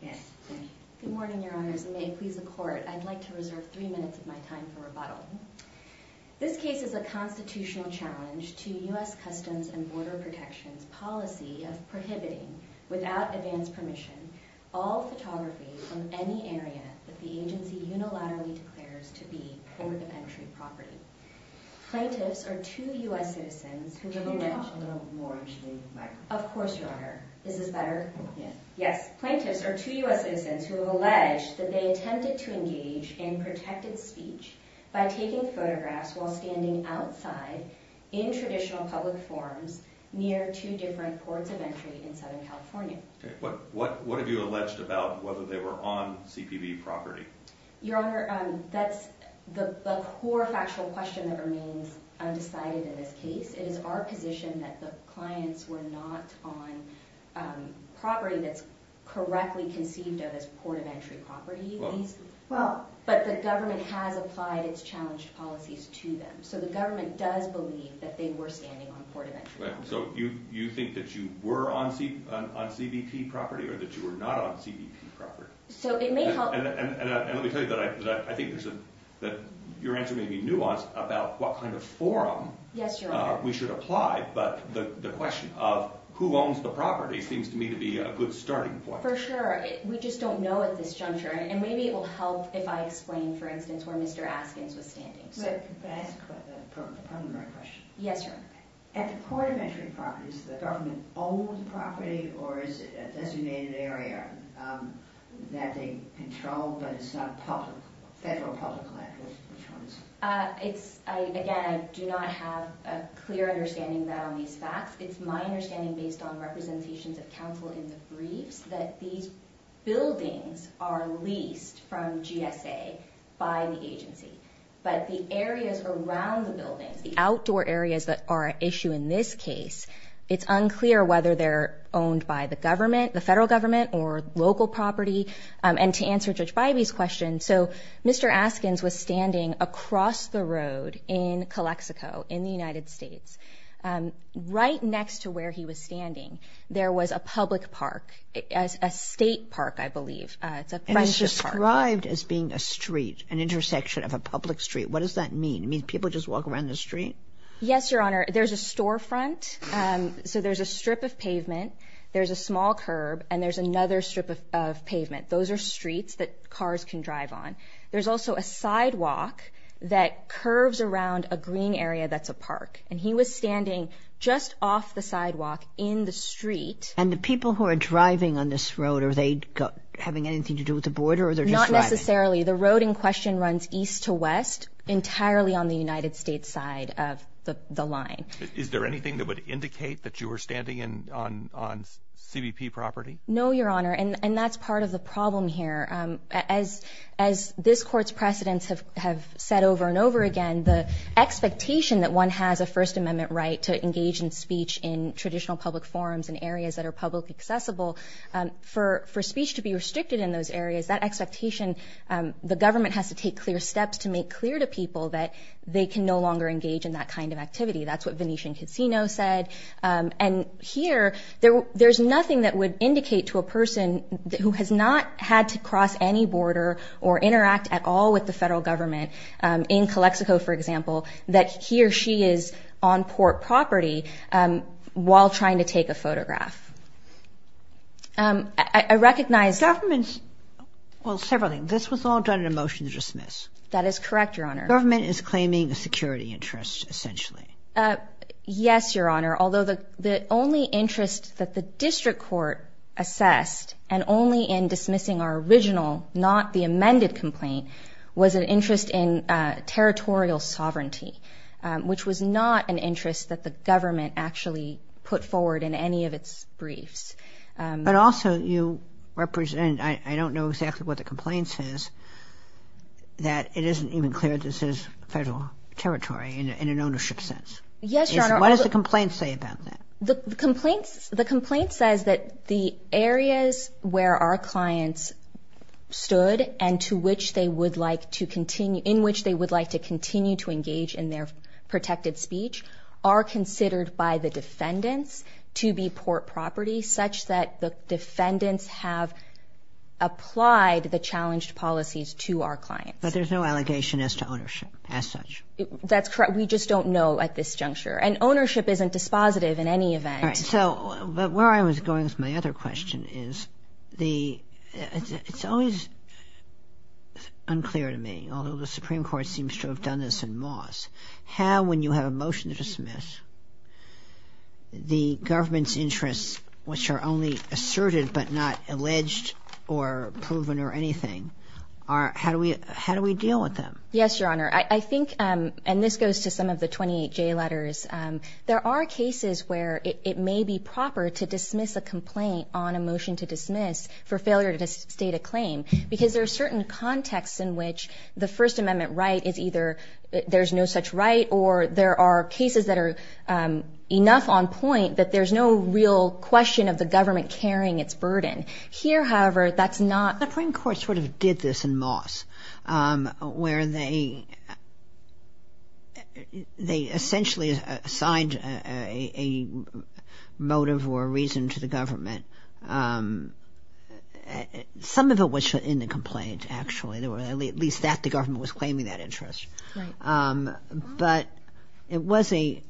Good morning, Your Honors, and may it please the Court, I'd like to reserve three minutes of my time for rebuttal. This case is a constitutional challenge to U.S. Customs and Border Protection's policy of prohibiting, without advance permission, all photography from any area that the agency unilaterally declares to be Port of Entry property. Plaintiffs are two U.S. citizens who have alleged that they attempted to engage in protected speech by taking photographs while standing outside, in traditional public forums, near two different Ports of Entry in Southern California. What have you alleged about whether they were on CPB property? Your Honor, that's the core factual question that remains undecided in this case. It is our position that the clients were not on property that's correctly conceived of as Port of Entry property. But the government has applied its challenged policies to them. So the government does believe that they were standing on Port of Entry property. So you think that you were on CBP property or that you were not on CBP property? And let me tell you that I think your answer may be nuanced about what kind of forum we should apply, but the question of who owns the property seems to me to be a good starting point. For sure. We just don't know at this juncture. And maybe it will help if I explain, for instance, where Mr. Askins was standing. May I ask a preliminary question? Yes, Your Honor. At the Port of Entry property, does the government own the property or is it a designated area that they control, but it's not federal public land? Again, I do not have a clear understanding around these facts. It's my understanding, based on representations of counsel in the briefs, that these buildings are leased from GSA by the agency. But the areas around the buildings, the outdoor areas that are at issue in this case, it's unclear whether they're owned by the government, the federal government, or local property. And to answer Judge Bybee's question, so Mr. Askins was standing across the road in Calexico in the United States. Right next to where he was standing, there was a public park, a state park, I believe. It's a friendship park. It's described as being a street, an intersection of a public street. What does that mean? It means people just walk around the street? Yes, Your Honor. There's a storefront, so there's a strip of pavement, there's a small curb, and there's another strip of pavement. Those are streets that cars can drive on. There's also a sidewalk that curves around a green area that's a park. And he was standing just off the sidewalk in the street. And the people who are driving on this road, are they having anything to do with the border or they're just driving? Not necessarily. The road in question runs east to west entirely on the United States side of the line. Is there anything that would indicate that you were standing on CBP property? No, Your Honor, and that's part of the problem here. As this Court's precedents have said over and over again, the expectation that one has a First Amendment right to engage in speech in traditional public forums in areas that are publicly accessible, for speech to be restricted in those areas, that expectation, the government has to take clear steps to make clear to people that they can no longer engage in that kind of activity. That's what Venetian Casino said. And here, there's nothing that would indicate to a person who has not had to cross any border or interact at all with the federal government in Calexico, for example, that he or she is on port property while trying to take a photograph. I recognize... Governments, well, several things. This was all done in a motion to dismiss. That is correct, Your Honor. Government is claiming a security interest, essentially. Yes, Your Honor, although the only interest that the district court assessed, and only in dismissing our original, not the amended complaint, was an interest in territorial sovereignty, which was not an interest that the government actually put forward in any of its briefs. But also you represent, I don't know exactly what the complaint says, that it isn't even clear this is federal territory in an ownership sense. Yes, Your Honor. What does the complaint say about that? The complaint says that the areas where our clients stood and in which they would like to continue to engage in their protected speech are considered by the defendants to be port property, such that the defendants have applied the challenged policies to our clients. But there's no allegation as to ownership as such. That's correct. We just don't know at this juncture. And ownership isn't dispositive in any event. All right. So where I was going with my other question is it's always unclear to me, although the Supreme Court seems to have done this in Moss, how when you have a motion to dismiss the government's interests, which are only asserted but not alleged or proven or anything, how do we deal with them? Yes, Your Honor. I think, and this goes to some of the 28J letters, there are cases where it may be proper to dismiss a complaint on a motion to dismiss for failure to state a claim because there are certain contexts in which the First Amendment right is either there's no such right or there are cases that are enough on point that there's no real question of the government carrying its burden. Here, however, that's not. The Supreme Court sort of did this in Moss, where they essentially assigned a motive or a reason to the government. Some of it was in the complaint, actually. At least that the government was claiming that interest. But it was a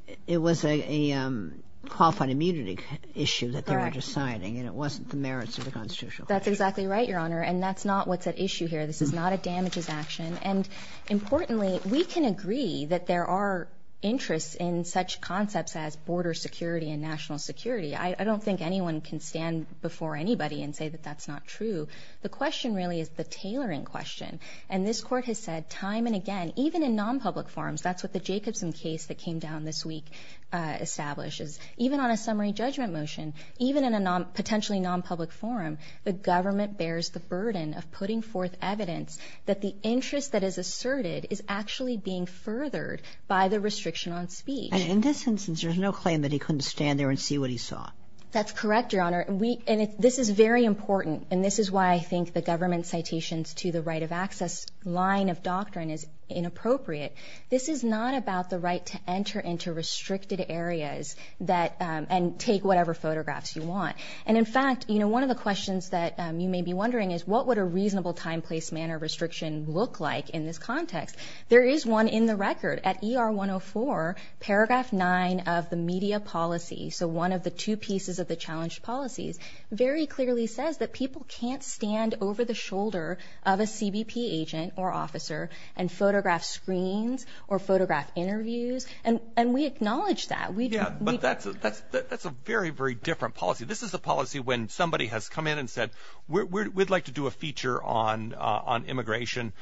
qualified immunity issue that they were deciding, and it wasn't the merits of the Constitution. That's exactly right, Your Honor, and that's not what's at issue here. This is not a damages action. And importantly, we can agree that there are interests in such concepts as border security and national security. I don't think anyone can stand before anybody and say that that's not true. The question really is the tailoring question, and this Court has said time and again, even in nonpublic forums, that's what the Jacobson case that came down this week establishes. Even on a summary judgment motion, even in a potentially nonpublic forum, the government bears the burden of putting forth evidence that the interest that is asserted is actually being furthered by the restriction on speech. And in this instance, there's no claim that he couldn't stand there and see what he saw. That's correct, Your Honor. And this is very important, and this is why I think the government citations to the right of access line of doctrine is inappropriate. This is not about the right to enter into restricted areas and take whatever photographs you want. And, in fact, one of the questions that you may be wondering is what would a reasonable time, place, manner restriction look like in this context? There is one in the record. At ER 104, paragraph 9 of the media policy, so one of the two pieces of the challenged policies, very clearly says that people can't stand over the shoulder of a CBP agent or officer and photograph screens or photograph interviews, and we acknowledge that. Yeah, but that's a very, very different policy. This is a policy when somebody has come in and said, we'd like to do a feature on immigration.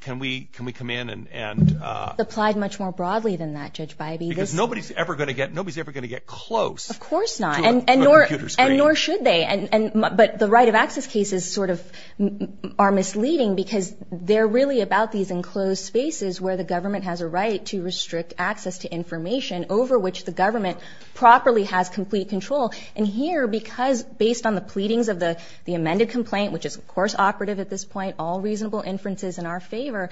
Can we come in and? It's applied much more broadly than that, Judge Bybee. Because nobody's ever going to get close to a computer screen. Of course not, and nor should they. But the right of access cases sort of are misleading because they're really about these enclosed spaces where the government has a right to restrict access to information over which the government properly has complete control. And here, because based on the pleadings of the amended complaint, which is, of course, operative at this point, all reasonable inferences in our favor,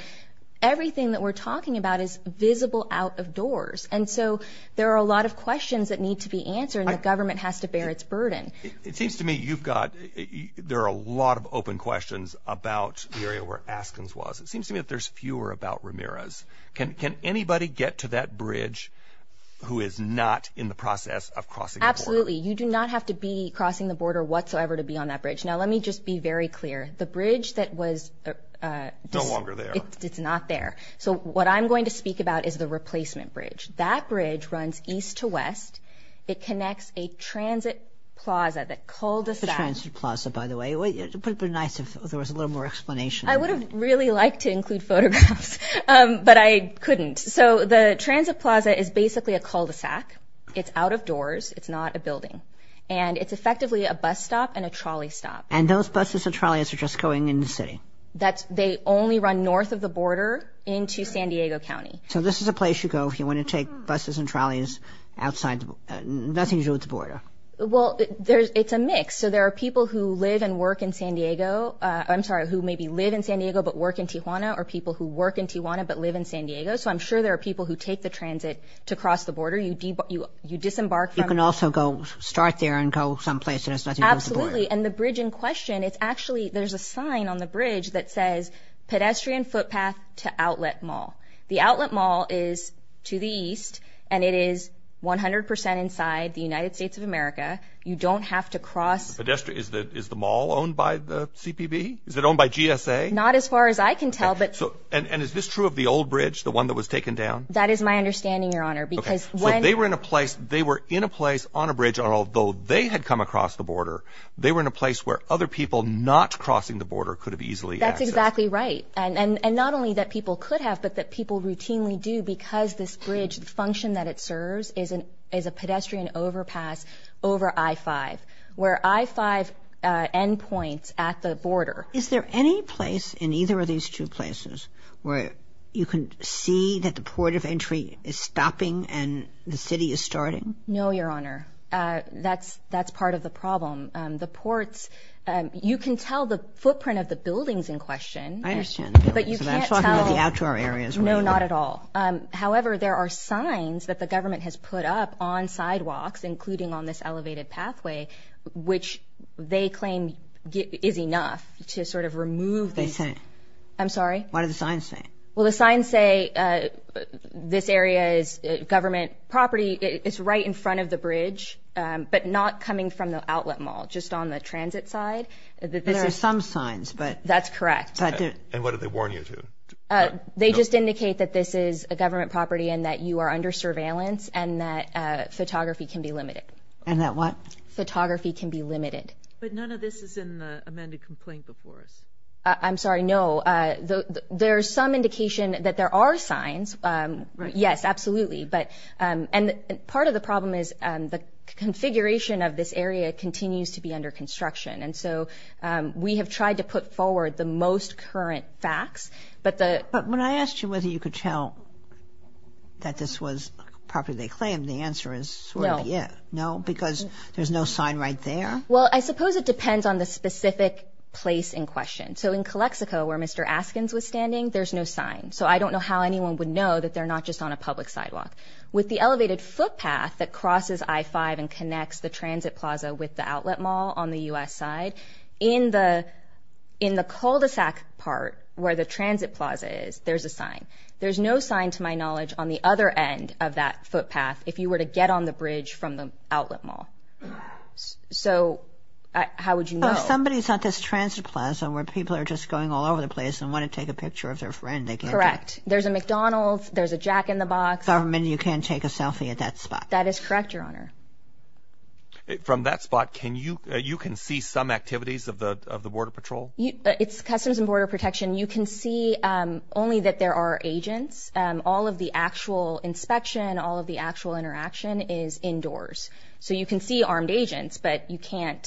everything that we're talking about is visible out of doors. And so there are a lot of questions that need to be answered and the government has to bear its burden. It seems to me you've got, there are a lot of open questions about the area where Askins was. It seems to me that there's fewer about Ramirez. Can anybody get to that bridge who is not in the process of crossing the border? Absolutely. You do not have to be crossing the border whatsoever to be on that bridge. Now let me just be very clear. The bridge that was... No longer there. It's not there. So what I'm going to speak about is the replacement bridge. That bridge runs east to west. It connects a transit plaza, that cul-de-sac. It's a transit plaza, by the way. It would have been nice if there was a little more explanation. I would have really liked to include photographs, but I couldn't. So the transit plaza is basically a cul-de-sac. It's out of doors. It's not a building. And it's effectively a bus stop and a trolley stop. And those buses and trolleys are just going in the city? They only run north of the border into San Diego County. So this is a place you go if you want to take buses and trolleys outside. Nothing to do with the border. Well, it's a mix. So there are people who live and work in San Diego, I'm sorry, who maybe live in San Diego but work in Tijuana, or people who work in Tijuana but live in San Diego. So I'm sure there are people who take the transit to cross the border. You disembark from the border. You can also go start there and go someplace and there's nothing to do with the border. Absolutely. And the bridge in question, it's actually, there's a sign on the bridge that says, Pedestrian footpath to outlet mall. The outlet mall is to the east, and it is 100% inside the United States of America. You don't have to cross. Is the mall owned by the CPB? Is it owned by GSA? Not as far as I can tell. And is this true of the old bridge, the one that was taken down? That is my understanding, Your Honor, because when they were in a place, they were in a place on a bridge, and although they had come across the border, they were in a place where other people not crossing the border could have easily accessed. That's exactly right. And not only that people could have, but that people routinely do because this bridge, the function that it serves is a pedestrian overpass over I-5, where I-5 endpoints at the border. Is there any place in either of these two places where you can see that the port of entry is stopping and the city is starting? No, Your Honor. That's part of the problem. The ports, you can tell the footprint of the buildings in question. I understand. But you can't tell. I'm talking about the outdoor areas. No, not at all. However, there are signs that the government has put up on sidewalks, including on this elevated pathway, which they claim is enough to sort of remove this. They say? I'm sorry? What do the signs say? Well, the signs say this area is government property. It's right in front of the bridge, but not coming from the outlet mall, just on the transit side. There are some signs, but... That's correct. And what did they warn you to? They just indicate that this is a government property and that you are under surveillance and that photography can be limited. And that what? Photography can be limited. But none of this is in the amended complaint before us. I'm sorry, no. There is some indication that there are signs. Right. Yes, absolutely. And part of the problem is the configuration of this area continues to be under construction, and so we have tried to put forward the most current facts. But when I asked you whether you could tell that this was property they claimed, the answer is sort of yes. No. No, because there's no sign right there? Well, I suppose it depends on the specific place in question. So in Calexico, where Mr. Askins was standing, there's no sign, so I don't know how anyone would know that they're not just on a public sidewalk. With the elevated footpath that crosses I-5 and connects the transit plaza with the outlet mall on the U.S. side, in the cul-de-sac part where the transit plaza is, there's a sign. There's no sign, to my knowledge, on the other end of that footpath if you were to get on the bridge from the outlet mall. So how would you know? Somebody's at this transit plaza where people are just going all over the place and want to take a picture of their friend. Correct. There's a McDonald's. There's a Jack in the Box. Government, you can't take a selfie at that spot. That is correct, Your Honor. From that spot, you can see some activities of the Border Patrol? It's Customs and Border Protection. You can see only that there are agents. All of the actual inspection, all of the actual interaction is indoors. So you can see armed agents, but you can't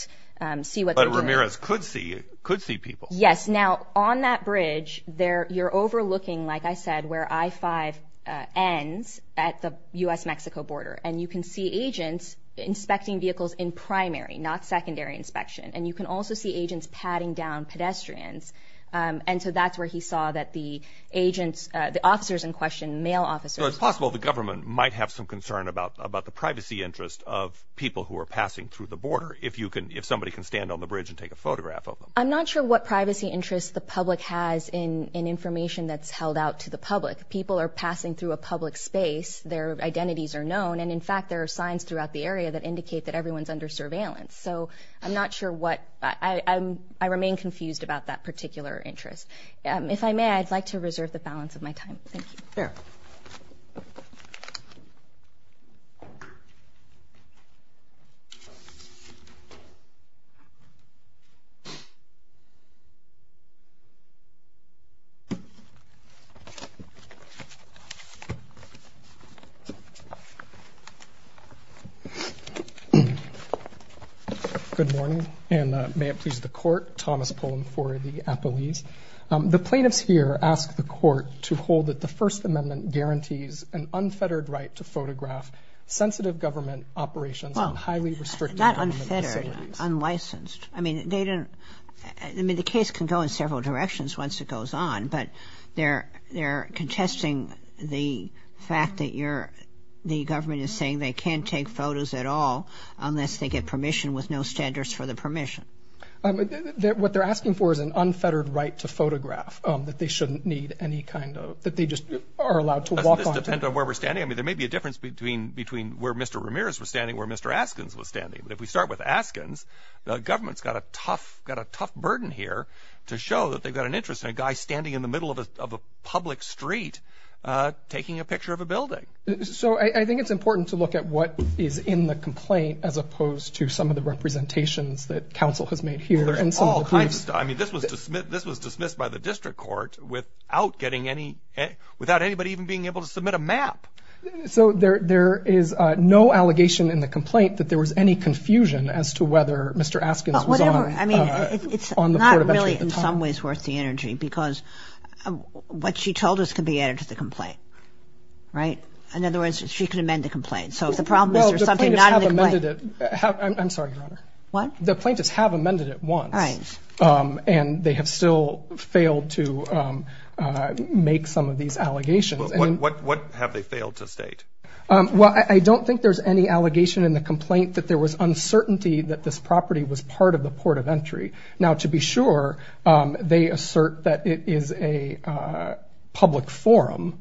see what they're doing. But Ramirez could see people. Yes. Now, on that bridge, you're overlooking, like I said, where I-5 ends at the U.S.-Mexico border, and you can see agents inspecting vehicles in primary, not secondary inspection. And you can also see agents patting down pedestrians. And so that's where he saw that the agents, the officers in question, male officers. So it's possible the government might have some concern about the privacy interest of people who are passing through the border, if somebody can stand on the bridge and take a photograph of them. I'm not sure what privacy interest the public has in information that's held out to the public. People are passing through a public space. Their identities are known. And, in fact, there are signs throughout the area that indicate that everyone's under surveillance. So I'm not sure what-I remain confused about that particular interest. If I may, I'd like to reserve the balance of my time. Thank you. Good morning. And may it please the Court, Thomas Pullen for the appellees. The plaintiffs here ask the Court to hold that the First Amendment guarantees an unfettered right to photograph sensitive government operations and highly restricted government facilities. Well, not unfettered, unlicensed. I mean, they didn't-I mean, the case can go in several directions once it goes on, but they're contesting the fact that you're-the government is saying they can't take photos at all unless they get permission with no standards for the permission. What they're asking for is an unfettered right to photograph, that they shouldn't need any kind of-that they just are allowed to walk onto- Does this depend on where we're standing? I mean, there may be a difference between where Mr. Ramirez was standing and where Mr. Askins was standing. But if we start with Askins, the government's got a tough-got a tough burden here to show that they've got an interest in a guy standing in the middle of a public street taking a picture of a building. So I think it's important to look at what is in the complaint as opposed to some of the representations that counsel has made here. Well, there's all kinds of stuff. I mean, this was dismissed by the district court without getting any- without anybody even being able to submit a map. So there is no allegation in the complaint that there was any confusion as to whether Mr. Askins was on the court of entry at the time. I mean, it's not really in some ways worth the energy because what she told us could be added to the complaint, right? In other words, she could amend the complaint. So if the problem is there's something not in the complaint- Well, the plaintiffs have amended it. I'm sorry, Your Honor. What? The plaintiffs have amended it once. All right. And they have still failed to make some of these allegations. What have they failed to state? Well, I don't think there's any allegation in the complaint that there was uncertainty that this property was part of the court of entry. Now, to be sure, they assert that it is a public forum,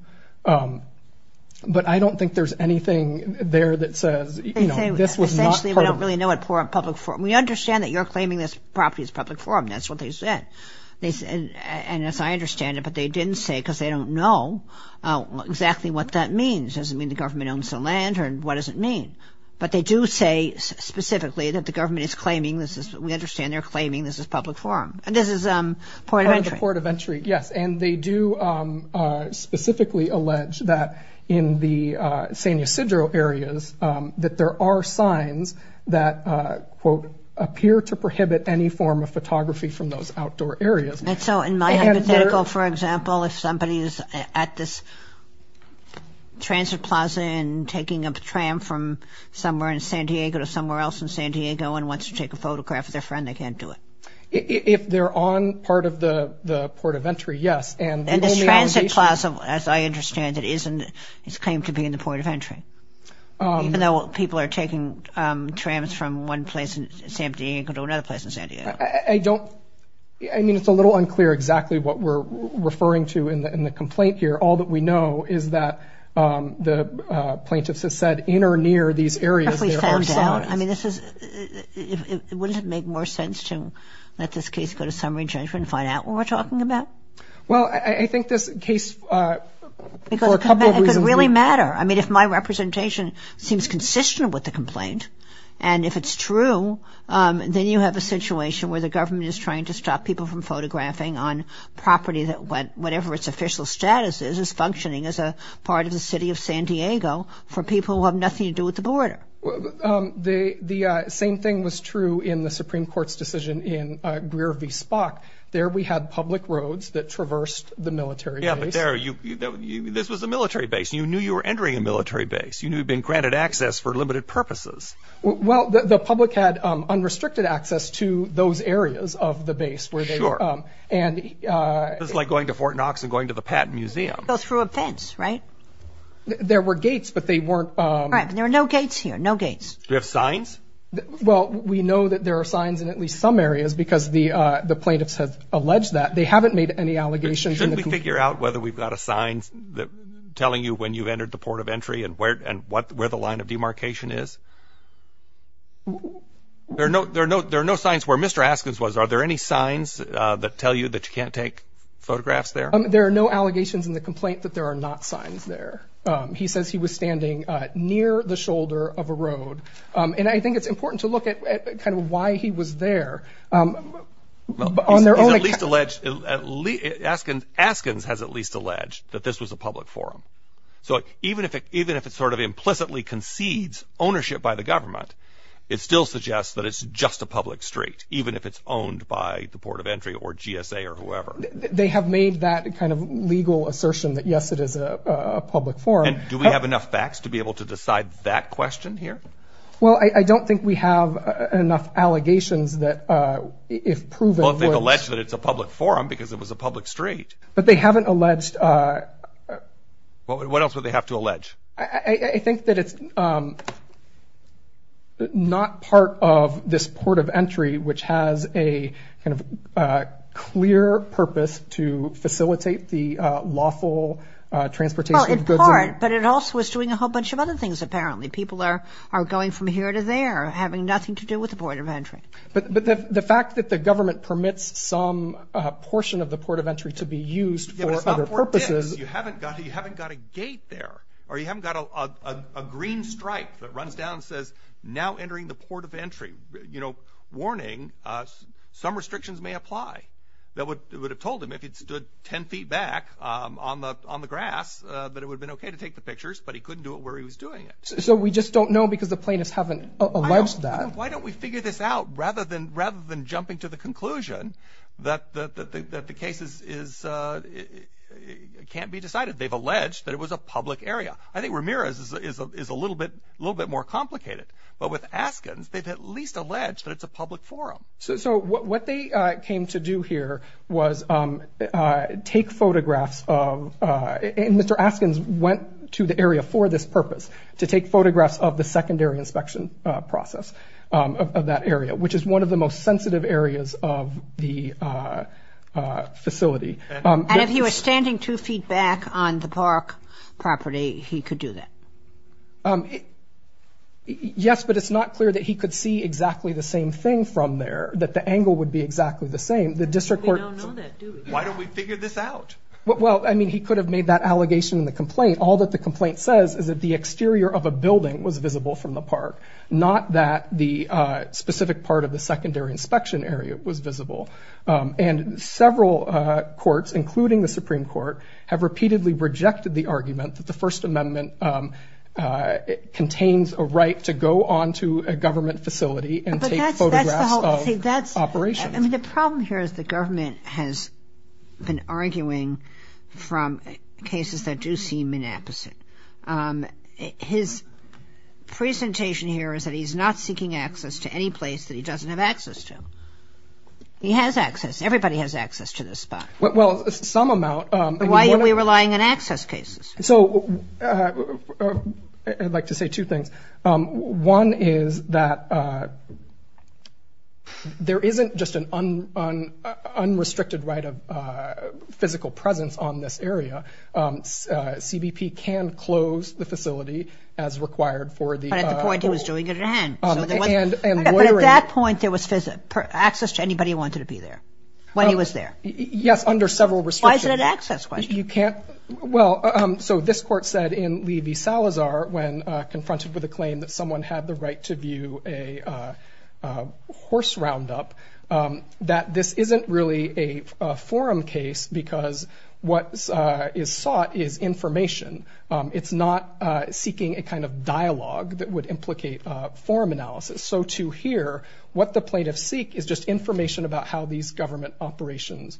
but I don't think there's anything there that says, you know, this was not part of- Essentially, we don't really know what public forum- we understand that you're claiming this property is public forum. That's what they said. And as I understand it, but they didn't say because they don't know exactly what that means. It doesn't mean the government owns the land or what does it mean. But they do say specifically that the government is claiming this is- we understand they're claiming this is public forum. And this is part of the court of entry. Part of the court of entry, yes. And they do specifically allege that in the San Ysidro areas that there are signs that, quote, appear to prohibit any form of photography from those outdoor areas. And so in my hypothetical, for example, if somebody is at this transit plaza and taking a tram from somewhere in San Diego to somewhere else in San Diego and wants to take a photograph of their friend, they can't do it. If they're on part of the port of entry, yes. And this transit plaza, as I understand it, is claimed to be in the port of entry, even though people are taking trams from one place in San Diego to another place in San Diego. I don't-I mean, it's a little unclear exactly what we're referring to in the complaint here. All that we know is that the plaintiffs have said in or near these areas there are signs. If we found out? I mean, this is-wouldn't it make more sense to let this case go to summary judgment and find out what we're talking about? Well, I think this case, for a couple of reasons- Because it could really matter. I mean, if my representation seems consistent with the complaint and if it's true, then you have a situation where the government is trying to stop people from photographing on property that whatever its official status is, is functioning as a part of the city of San Diego for people who have nothing to do with the border. The same thing was true in the Supreme Court's decision in Greer v. Spock. There we had public roads that traversed the military base. Yeah, but there you-this was a military base. You knew you were entering a military base. You knew you'd been granted access for limited purposes. Well, the public had unrestricted access to those areas of the base where they- Sure. And- This is like going to Fort Knox and going to the Patton Museum. Go through a fence, right? There were gates, but they weren't- Right, but there were no gates here, no gates. Do you have signs? Well, we know that there are signs in at least some areas because the plaintiffs have alleged that. They haven't made any allegations in the complaint. Shouldn't we figure out whether we've got a sign telling you when you've entered the port of entry and where the line of demarcation is? There are no signs where Mr. Askins was. Are there any signs that tell you that you can't take photographs there? There are no allegations in the complaint that there are not signs there. He says he was standing near the shoulder of a road, and I think it's important to look at kind of why he was there. He's at least alleged-Askins has at least alleged that this was a public forum. So even if it sort of implicitly concedes ownership by the government, it still suggests that it's just a public street, even if it's owned by the port of entry or GSA or whoever. They have made that kind of legal assertion that, yes, it is a public forum. Do we have enough facts to be able to decide that question here? Well, I don't think we have enough allegations that if proven- Well, if they've alleged that it's a public forum because it was a public street. But they haven't alleged- What else would they have to allege? I think that it's not part of this port of entry, which has a kind of clear purpose to facilitate the lawful transportation of goods. Well, in part, but it also is doing a whole bunch of other things, apparently. People are going from here to there, having nothing to do with the port of entry. But the fact that the government permits some portion of the port of entry to be used for other purposes- You haven't got a gate there, or you haven't got a green stripe that runs down and says, now entering the port of entry. Warning, some restrictions may apply. It would have told him if it stood 10 feet back on the grass that it would have been okay to take the pictures, but he couldn't do it where he was doing it. So we just don't know because the plaintiffs haven't alleged that? Why don't we figure this out rather than jumping to the conclusion that the case can't be decided? They've alleged that it was a public area. I think Ramirez is a little bit more complicated. But with Askins, they've at least alleged that it's a public forum. So what they came to do here was take photographs of- which is one of the most sensitive areas of the facility. And if he was standing two feet back on the park property, he could do that? Yes, but it's not clear that he could see exactly the same thing from there, that the angle would be exactly the same. We don't know that, do we? Why don't we figure this out? Well, I mean, he could have made that allegation in the complaint. All that the complaint says is that the exterior of a building was visible from the park, not that the specific part of the secondary inspection area was visible. And several courts, including the Supreme Court, have repeatedly rejected the argument that the First Amendment contains a right to go onto a government facility and take photographs of operations. But that's the whole thing. I mean, the problem here is the government has been arguing from cases that do seem inapposite. His presentation here is that he's not seeking access to any place that he doesn't have access to. He has access. Everybody has access to this spot. Well, some amount. Why are we relying on access cases? So I'd like to say two things. One is that there isn't just an unrestricted right of physical presence on this area. CBP can close the facility as required for the- But at the point he was doing it at hand. But at that point, there was access to anybody who wanted to be there when he was there. Yes, under several restrictions. Why is it an access question? Well, so this court said in Levy-Salazar, when confronted with a claim that someone had the right to view a horse roundup, that this isn't really a forum case because what is sought is information. It's not seeking a kind of dialogue that would implicate forum analysis. So to hear what the plaintiffs seek is just information about how these government operations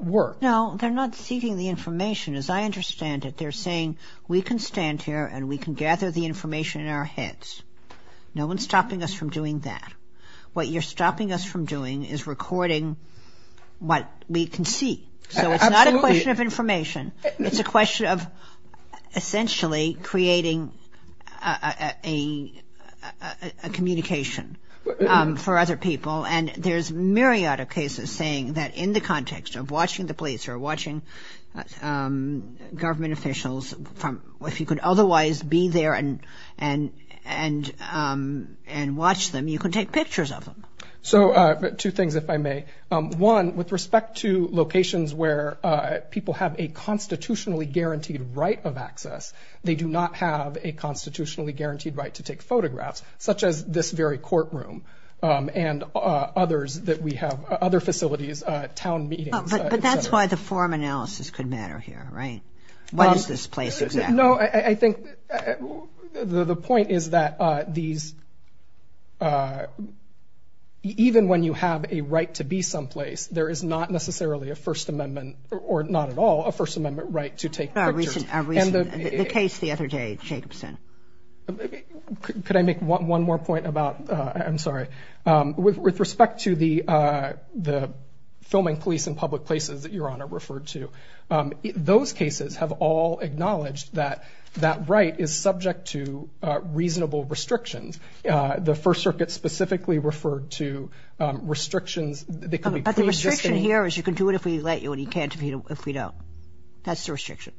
work. No, they're not seeking the information. As I understand it, they're saying we can stand here and we can gather the information in our heads. No one's stopping us from doing that. What you're stopping us from doing is recording what we can see. So it's not a question of information. It's a question of essentially creating a communication for other people. And there's a myriad of cases saying that in the context of watching the police or watching government officials, if you could otherwise be there and watch them, you could take pictures of them. So two things, if I may. One, with respect to locations where people have a constitutionally guaranteed right of access, they do not have a constitutionally guaranteed right to take photographs, such as this very courtroom and others that we have, other facilities, town meetings, et cetera. But that's why the forum analysis could matter here, right? What is this place exactly? No, I think the point is that these, even when you have a right to be someplace, there is not necessarily a First Amendment, or not at all, a First Amendment right to take pictures. The case the other day, Jacobson. Could I make one more point about, I'm sorry. With respect to the filming police in public places that Your Honor referred to, those cases have all acknowledged that that right is subject to reasonable restrictions. The First Circuit specifically referred to restrictions. But the restriction here is you can do it if we let you and you can't if we don't. That's the restriction.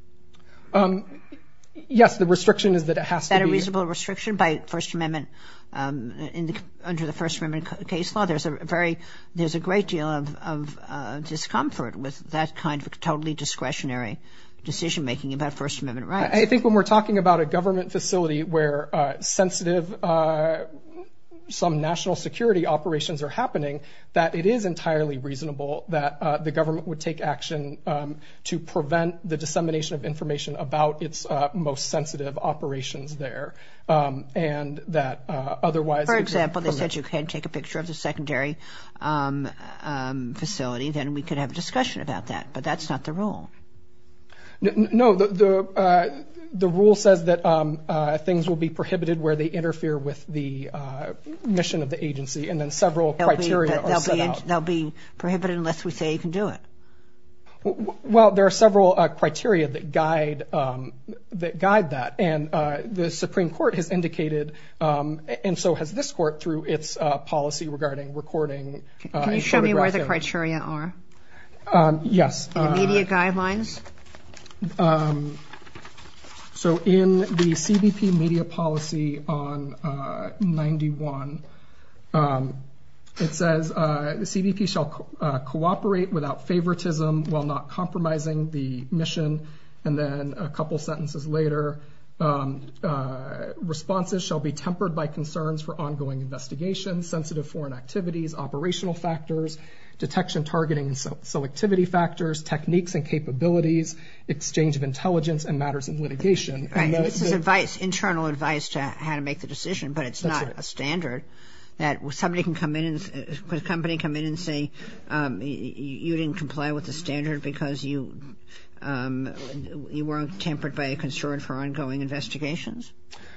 Yes, the restriction is that it has to be. Is that a reasonable restriction by First Amendment, under the First Amendment case law? There's a great deal of discomfort with that kind of totally discretionary decision-making about First Amendment rights. I think when we're talking about a government facility where sensitive, some national security operations are happening, that it is entirely reasonable that the government would take action to prevent the dissemination of information about its most sensitive operations there. For example, they said you can't take a picture of the secondary facility, then we could have a discussion about that. But that's not the rule. No, the rule says that things will be prohibited where they interfere with the mission of the agency. And then several criteria are set out. They'll be prohibited unless we say you can do it. Well, there are several criteria that guide that. And the Supreme Court has indicated, and so has this court, through its policy regarding recording. Can you show me where the criteria are? Yes. In the media guidelines? So in the CBP media policy on 91, it says the CBP shall cooperate without favoritism while not compromising the mission. And then a couple sentences later, responses shall be tempered by concerns for ongoing investigation, sensitive foreign activities, operational factors, detection, targeting, and selectivity factors, techniques and capabilities, exchange of intelligence, and matters of litigation. Right. This is advice, internal advice to how to make the decision. But it's not a standard that somebody can come in, could a company come in and say you didn't comply with the standard because you weren't tempered by a concern for ongoing investigations?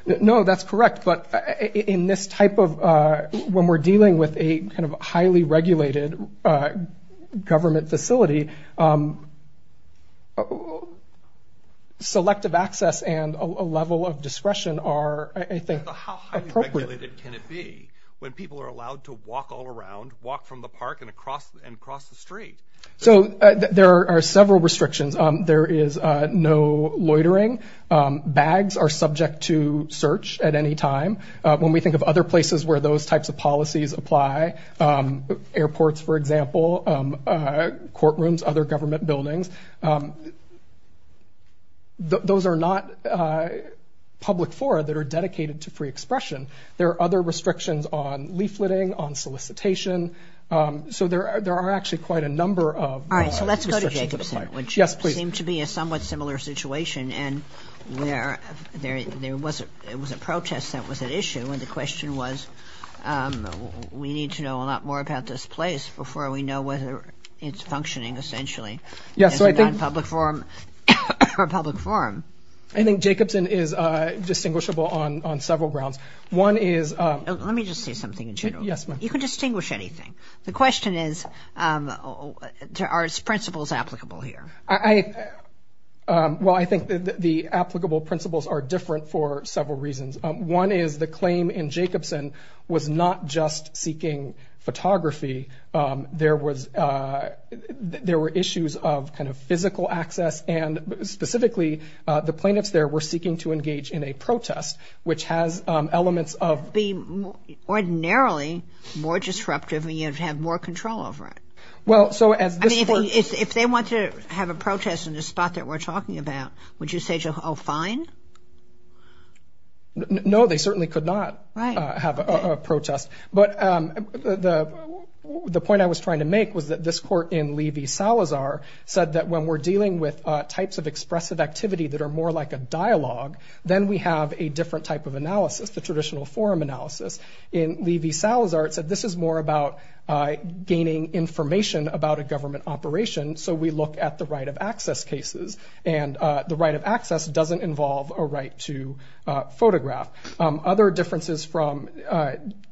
No, that's correct. But in this type of, when we're dealing with a kind of highly regulated government facility, selective access and a level of discretion are, I think, appropriate. How highly regulated can it be when people are allowed to walk all around, walk from the park and across the street? So there are several restrictions. There is no loitering. Bags are subject to search at any time. When we think of other places where those types of policies apply, airports, for example, courtrooms, other government buildings, those are not public fora that are dedicated to free expression. There are other restrictions on leafleting, on solicitation. So there are actually quite a number of laws and restrictions that apply. All right, so let's go to Jacobson. Yes, please. Which seemed to be a somewhat similar situation and where there was a protest that was at issue and the question was we need to know a lot more about this place before we know whether it's functioning essentially. Yes, so I think... Is it on public forum or public forum? I think Jacobson is distinguishable on several grounds. One is... Let me just say something in general. Yes, ma'am. You can distinguish anything. The question is are its principles applicable here? Well, I think the applicable principles are different for several reasons. One is the claim in Jacobson was not just seeking photography. There were issues of kind of physical access, and specifically the plaintiffs there were seeking to engage in a protest, which has elements of... Ordinarily more disruptive and you have to have more control over it. Well, so as this court... I mean, if they want to have a protest in the spot that we're talking about, would you say, oh, fine? No, they certainly could not have a protest. But the point I was trying to make was that this court in Levy-Salazar said that when we're dealing with types of expressive activity that are more like a dialogue, then we have a different type of analysis, the traditional forum analysis. In Levy-Salazar, it said this is more about gaining information about a government operation, so we look at the right of access cases, and the right of access doesn't involve a right to photograph. Other differences from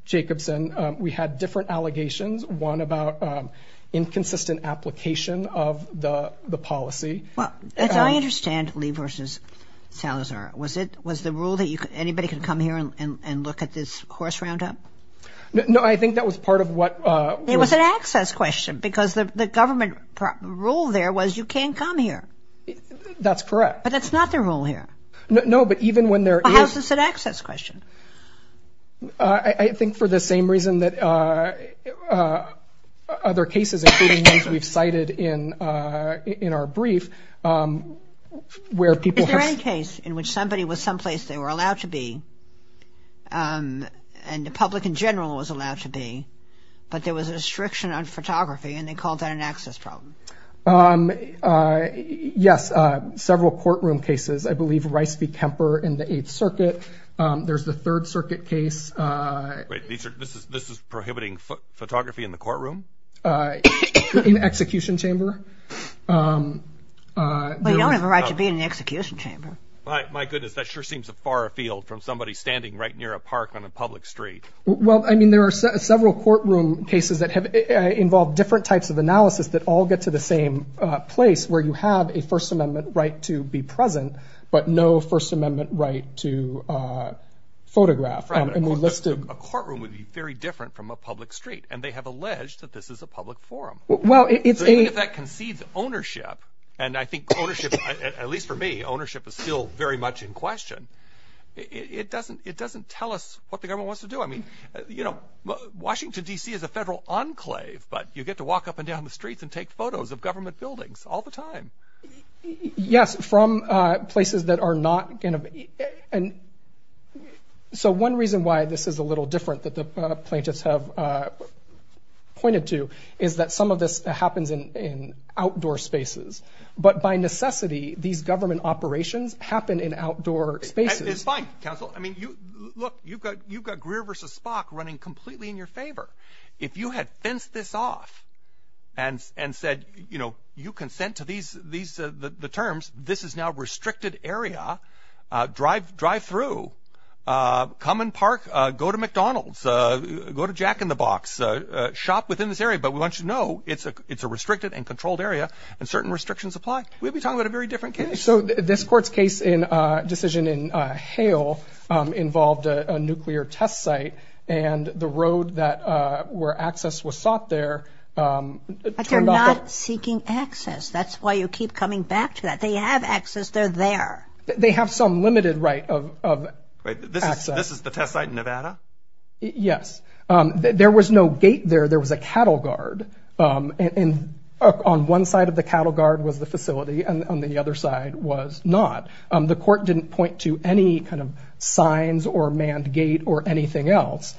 Jacobson, we had different allegations, one about inconsistent application of the policy. As I understand, Levy-Salazar, was the rule that anybody could come here and look at this horse roundup? No, I think that was part of what... It was an access question because the government rule there was you can't come here. That's correct. But that's not the rule here. No, but even when there is... It's an access question. I think for the same reason that other cases, including those we've cited in our brief, where people... Is there any case in which somebody was someplace they were allowed to be, and the public in general was allowed to be, but there was a restriction on photography, and they called that an access problem? Yes, several courtroom cases. I believe Rice v. Kemper in the Eighth Circuit. There's the Third Circuit case. Wait, this is prohibiting photography in the courtroom? In execution chamber. But you don't have a right to be in the execution chamber. My goodness, that sure seems a far field from somebody standing right near a park on a public street. Well, I mean, there are several courtroom cases that involve different types of analysis that all get to the same place where you have a First Amendment right to be present, but no First Amendment right to photograph. A courtroom would be very different from a public street, and they have alleged that this is a public forum. Even if that concedes ownership, and I think ownership, at least for me, ownership is still very much in question, it doesn't tell us what the government wants to do. I mean, you know, Washington, D.C. is a federal enclave, but you get to walk up and down the streets and take photos of government buildings all the time. Yes, from places that are not going to be. So one reason why this is a little different that the plaintiffs have pointed to is that some of this happens in outdoor spaces. But by necessity, these government operations happen in outdoor spaces. It's fine, counsel. I mean, look, you've got Greer v. Spock running completely in your favor. If you had fenced this off and said, you know, you consent to these terms, this is now a restricted area. Drive through, come and park, go to McDonald's, go to Jack in the Box, shop within this area. But we want you to know it's a restricted and controlled area, and certain restrictions apply. We'd be talking about a very different case. So this court's case in decision in Hale involved a nuclear test site and the road that where access was sought there. They're not seeking access. That's why you keep coming back to that. They have access. They're there. They have some limited right of access. This is the test site in Nevada? Yes. There was no gate there. There was a cattle guard, and on one side of the cattle guard was the facility and on the other side was not. The court didn't point to any kind of signs or manned gate or anything else.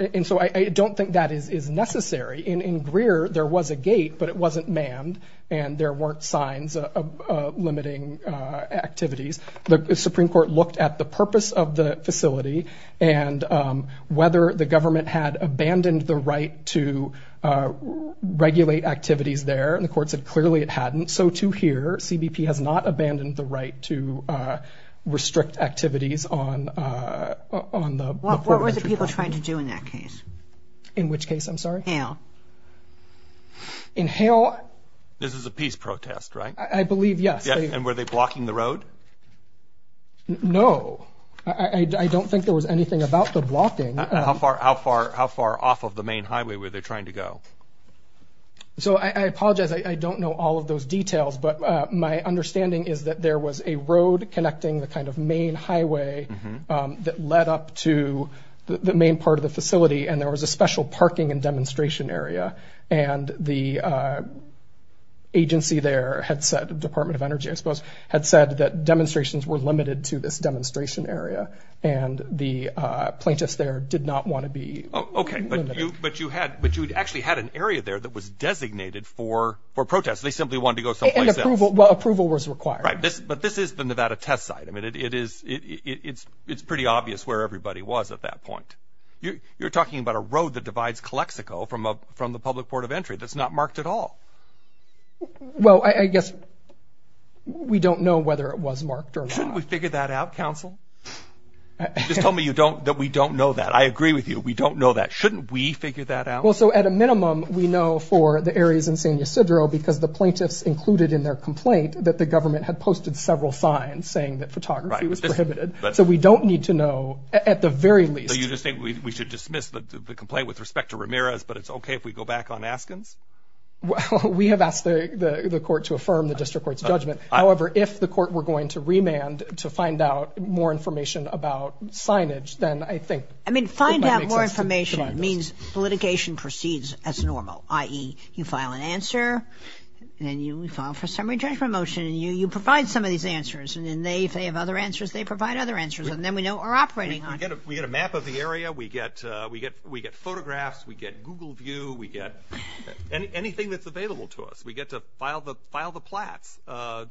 And so I don't think that is necessary. In Greer, there was a gate, but it wasn't manned and there weren't signs of limiting activities. The Supreme Court looked at the purpose of the facility and whether the government had abandoned the right to regulate activities there, and the court said clearly it hadn't. So to here, CBP has not abandoned the right to restrict activities on the port of entry point. What were the people trying to do in that case? In which case, I'm sorry? Hale. In Hale? This is a peace protest, right? I believe, yes. And were they blocking the road? No. I don't think there was anything about the blocking. How far off of the main highway were they trying to go? So I apologize. I don't know all of those details, but my understanding is that there was a road connecting the kind of main highway that led up to the main part of the facility, and there was a special parking and demonstration area, and the agency there had said, Department of Energy, I suppose, had said that demonstrations were limited to this demonstration area, and the plaintiffs there did not want to be limited. Okay, but you actually had an area there that was designated for protests. They simply wanted to go someplace else. And approval was required. Right, but this is the Nevada Test Site. I mean, it's pretty obvious where everybody was at that point. You're talking about a road that divides Calexico from the public port of entry that's not marked at all. Well, I guess we don't know whether it was marked or not. Shouldn't we figure that out, counsel? You just told me that we don't know that. I agree with you. We don't know that. Shouldn't we figure that out? Well, so at a minimum, we know for the areas in San Ysidro because the plaintiffs included in their complaint that the government had posted several signs saying that photography was prohibited. So we don't need to know, at the very least. So you just think we should dismiss the complaint with respect to Ramirez, but it's okay if we go back on Askins? Well, we have asked the court to affirm the district court's judgment. However, if the court were going to remand to find out more information about signage, then I think it might make sense. I mean, find out more information means litigation proceeds as normal, i.e., you file an answer, then you file for a summary judgment motion, and you provide some of these answers. And then they, if they have other answers, they provide other answers. And then we know we're operating on it. We get a map of the area. We get photographs. We get Google view. We get anything that's available to us. We get to file the plats,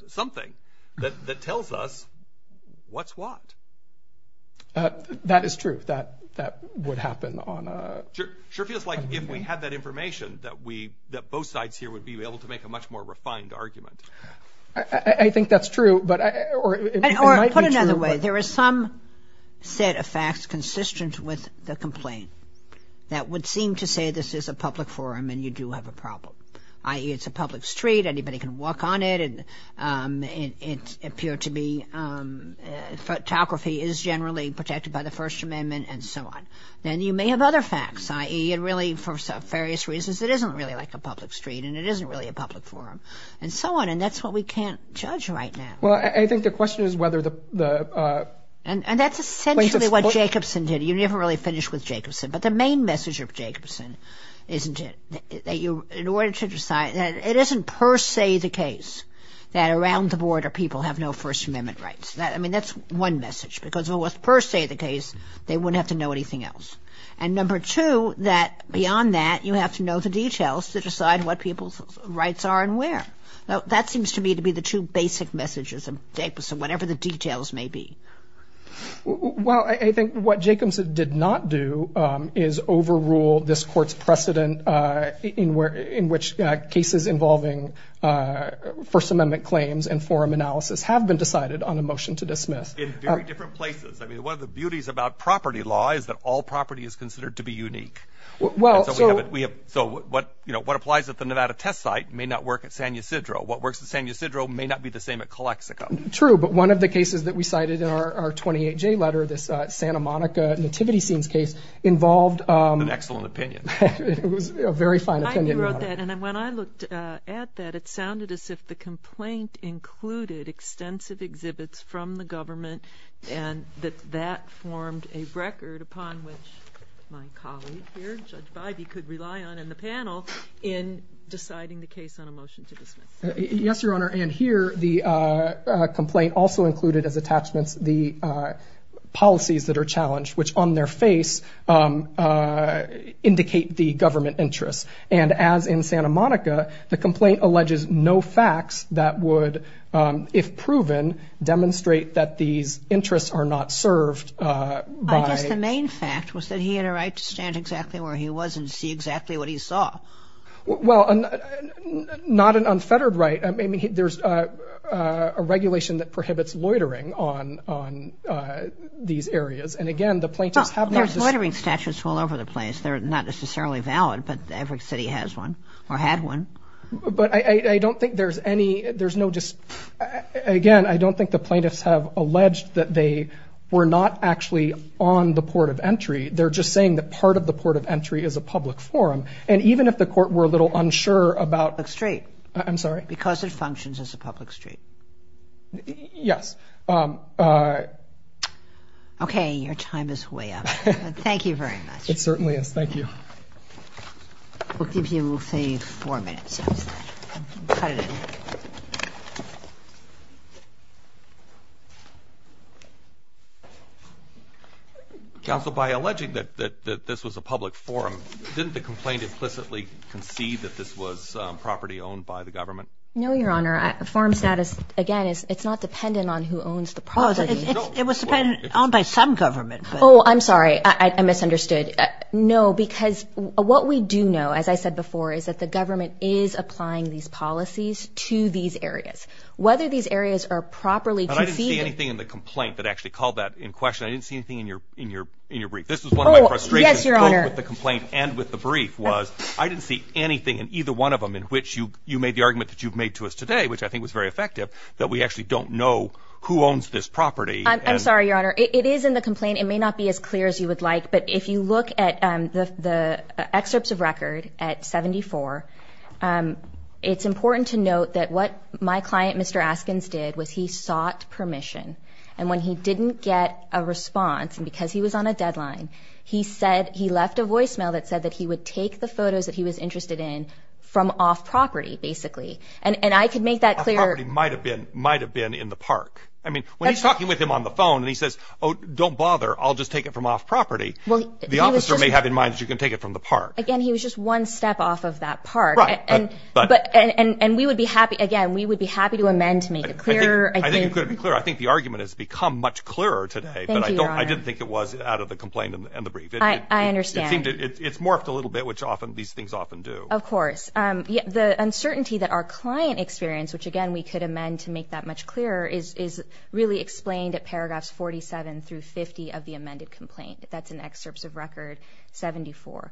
something that tells us what's what. That is true. That would happen on a – Sure feels like if we had that information that both sides here would be able to make a much more refined argument. I think that's true, but – Or put it another way. There is some set of facts consistent with the complaint that would seem to say this is a public forum and you do have a problem, i.e., it's a public street, anybody can walk on it, and it appeared to be photography is generally protected by the First Amendment, and so on. Then you may have other facts, i.e., it really, for various reasons, it isn't really like a public street, and it isn't really a public forum, and so on. And that's what we can't judge right now. Well, I think the question is whether the – And that's essentially what Jacobson did. You never really finish with Jacobson, but the main message of Jacobson isn't it, that in order to decide – it isn't per se the case that around the border people have no First Amendment rights. I mean, that's one message, because if it was per se the case, they wouldn't have to know anything else. And number two, that beyond that, you have to know the details to decide what people's rights are and where. Now, that seems to me to be the two basic messages of Jacobson, whatever the details may be. Well, I think what Jacobson did not do is overrule this Court's precedent in which cases involving First Amendment claims and forum analysis have been decided on a motion to dismiss. In very different places. I mean, one of the beauties about property law is that all property is considered to be unique. So what applies at the Nevada test site may not work at San Ysidro. What works at San Ysidro may not be the same at Calexico. True, but one of the cases that we cited in our 28-J letter, this Santa Monica Nativity Scenes case, involved – An excellent opinion. It was a very fine opinion. And when I looked at that, it sounded as if the complaint included extensive exhibits from the government and that that formed a record upon which my colleague here, Judge Bybee, could rely on in the panel in deciding the case on a motion to dismiss. Yes, Your Honor, and here the complaint also included as attachments the policies that are challenged, which on their face indicate the government interests. And as in Santa Monica, the complaint alleges no facts that would, if proven, demonstrate that these interests are not served by – I guess the main fact was that he had a right to stand exactly where he was and see exactly what he saw. Well, not an unfettered right. I mean, there's a regulation that prohibits loitering on these areas. And again, the plaintiffs have not just – There's loitering statutes all over the place. They're not necessarily valid, but every city has one or had one. But I don't think there's any – there's no just – Again, I don't think the plaintiffs have alleged that they were not actually on the port of entry. They're just saying that part of the port of entry is a public forum. And even if the court were a little unsure about – Public street. I'm sorry? Because it functions as a public street. Yes. Okay, your time is way up. Thank you very much. It certainly is. Thank you. We'll give you, say, four minutes. Cut it in. Counsel, by alleging that this was a public forum, didn't the complaint implicitly concede that this was property owned by the government? No, your Honor. Forum status, again, it's not dependent on who owns the property. It was dependent on by some government. Oh, I'm sorry. I misunderstood. No, because what we do know, as I said before, is that the government is applying these policies to these areas. Whether these areas are properly conceded – But I didn't see anything in the complaint that actually called that in question. I didn't see anything in your brief. This is one of my frustrations – Oh, yes, your Honor. – both with the complaint and with the brief was I didn't see anything in either one of them in which you made the argument that you've made to us today, which I think was very effective, that we actually don't know who owns this property. I'm sorry, your Honor. It is in the complaint. It may not be as clear as you would like. But if you look at the excerpts of record at 74, it's important to note that what my client, Mr. Askins, did was he sought permission. And when he didn't get a response, and because he was on a deadline, he said he left a voicemail that said that he would take the photos that he was interested in from off property, basically. And I could make that clear. Off property might have been in the park. I mean, when he's talking with him on the phone and he says, oh, don't bother, I'll just take it from off property, the officer may have in mind that you can take it from the park. Again, he was just one step off of that park. Right. And we would be happy, again, we would be happy to amend to make it clearer. I think it could be clearer. I think the argument has become much clearer today. Thank you, your Honor. But I didn't think it was out of the complaint and the brief. I understand. It's morphed a little bit, which these things often do. Of course. The uncertainty that our client experienced, which, again, we could amend to make that much clearer, is really explained at paragraphs 47 through 50 of the amended complaint. That's in Excerpts of Record 74.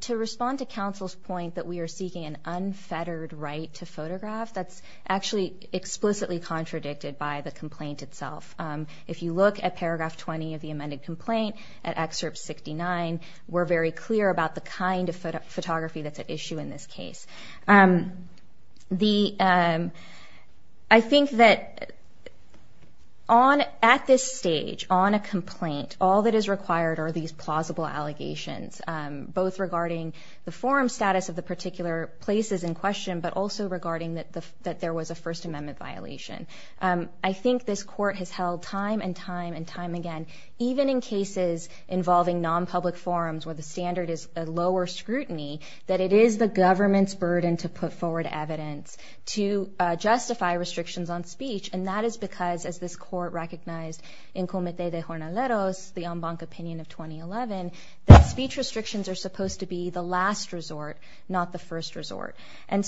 To respond to counsel's point that we are seeking an unfettered right to photograph, that's actually explicitly contradicted by the complaint itself. If you look at paragraph 20 of the amended complaint, at Excerpt 69, we're very clear about the kind of photography that's at issue in this case. I think that at this stage, on a complaint, all that is required are these plausible allegations, both regarding the forum status of the particular places in question, but also regarding that there was a First Amendment violation. I think this Court has held time and time and time again, even in cases involving non-public forums where the standard is a lower scrutiny, that it is the government's burden to put forward evidence to justify restrictions on speech, and that is because, as this Court recognized in Comité de Jornaleros, the en banc opinion of 2011, that speech restrictions are supposed to be the last resort, not the first resort. I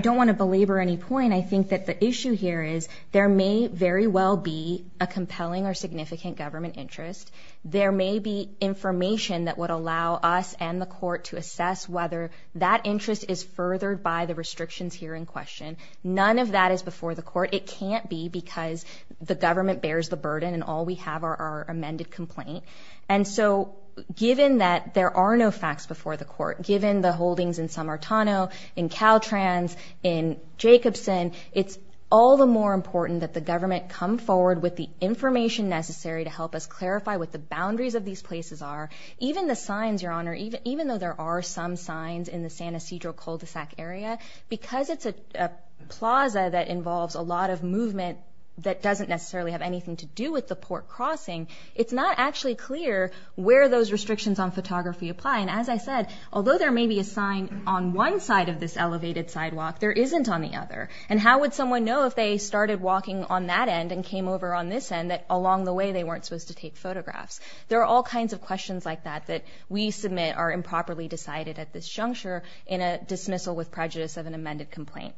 don't want to belabor any point. I think that the issue here is there may very well be a compelling or significant government interest. There may be information that would allow us and the Court to assess whether that interest is furthered by the restrictions here in question. None of that is before the Court. It can't be because the government bears the burden and all we have are our amended complaint. And so, given that there are no facts before the Court, given the holdings in Sammartano, in Caltrans, in Jacobson, it's all the more important that the government come forward with the information necessary to help us clarify what the boundaries of these places are. Even the signs, Your Honor, even though there are some signs in the San Ysidro cul-de-sac area, because it's a plaza that involves a lot of movement that doesn't necessarily have anything to do with the port crossing, it's not actually clear where those restrictions on photography apply. And as I said, although there may be a sign on one side of this elevated sidewalk, there isn't on the other. And how would someone know if they started walking on that end and came over on this end and that along the way they weren't supposed to take photographs? There are all kinds of questions like that that we submit are improperly decided at this juncture in a dismissal with prejudice of an amended complaint.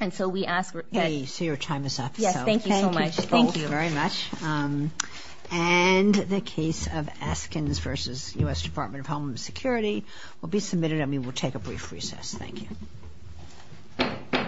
And so we ask that... Okay, so your time is up. Yes, thank you so much. Thank you both very much. And the case of Askins v. U.S. Department of Homeland Security will be submitted, and we will take a brief recess. Thank you.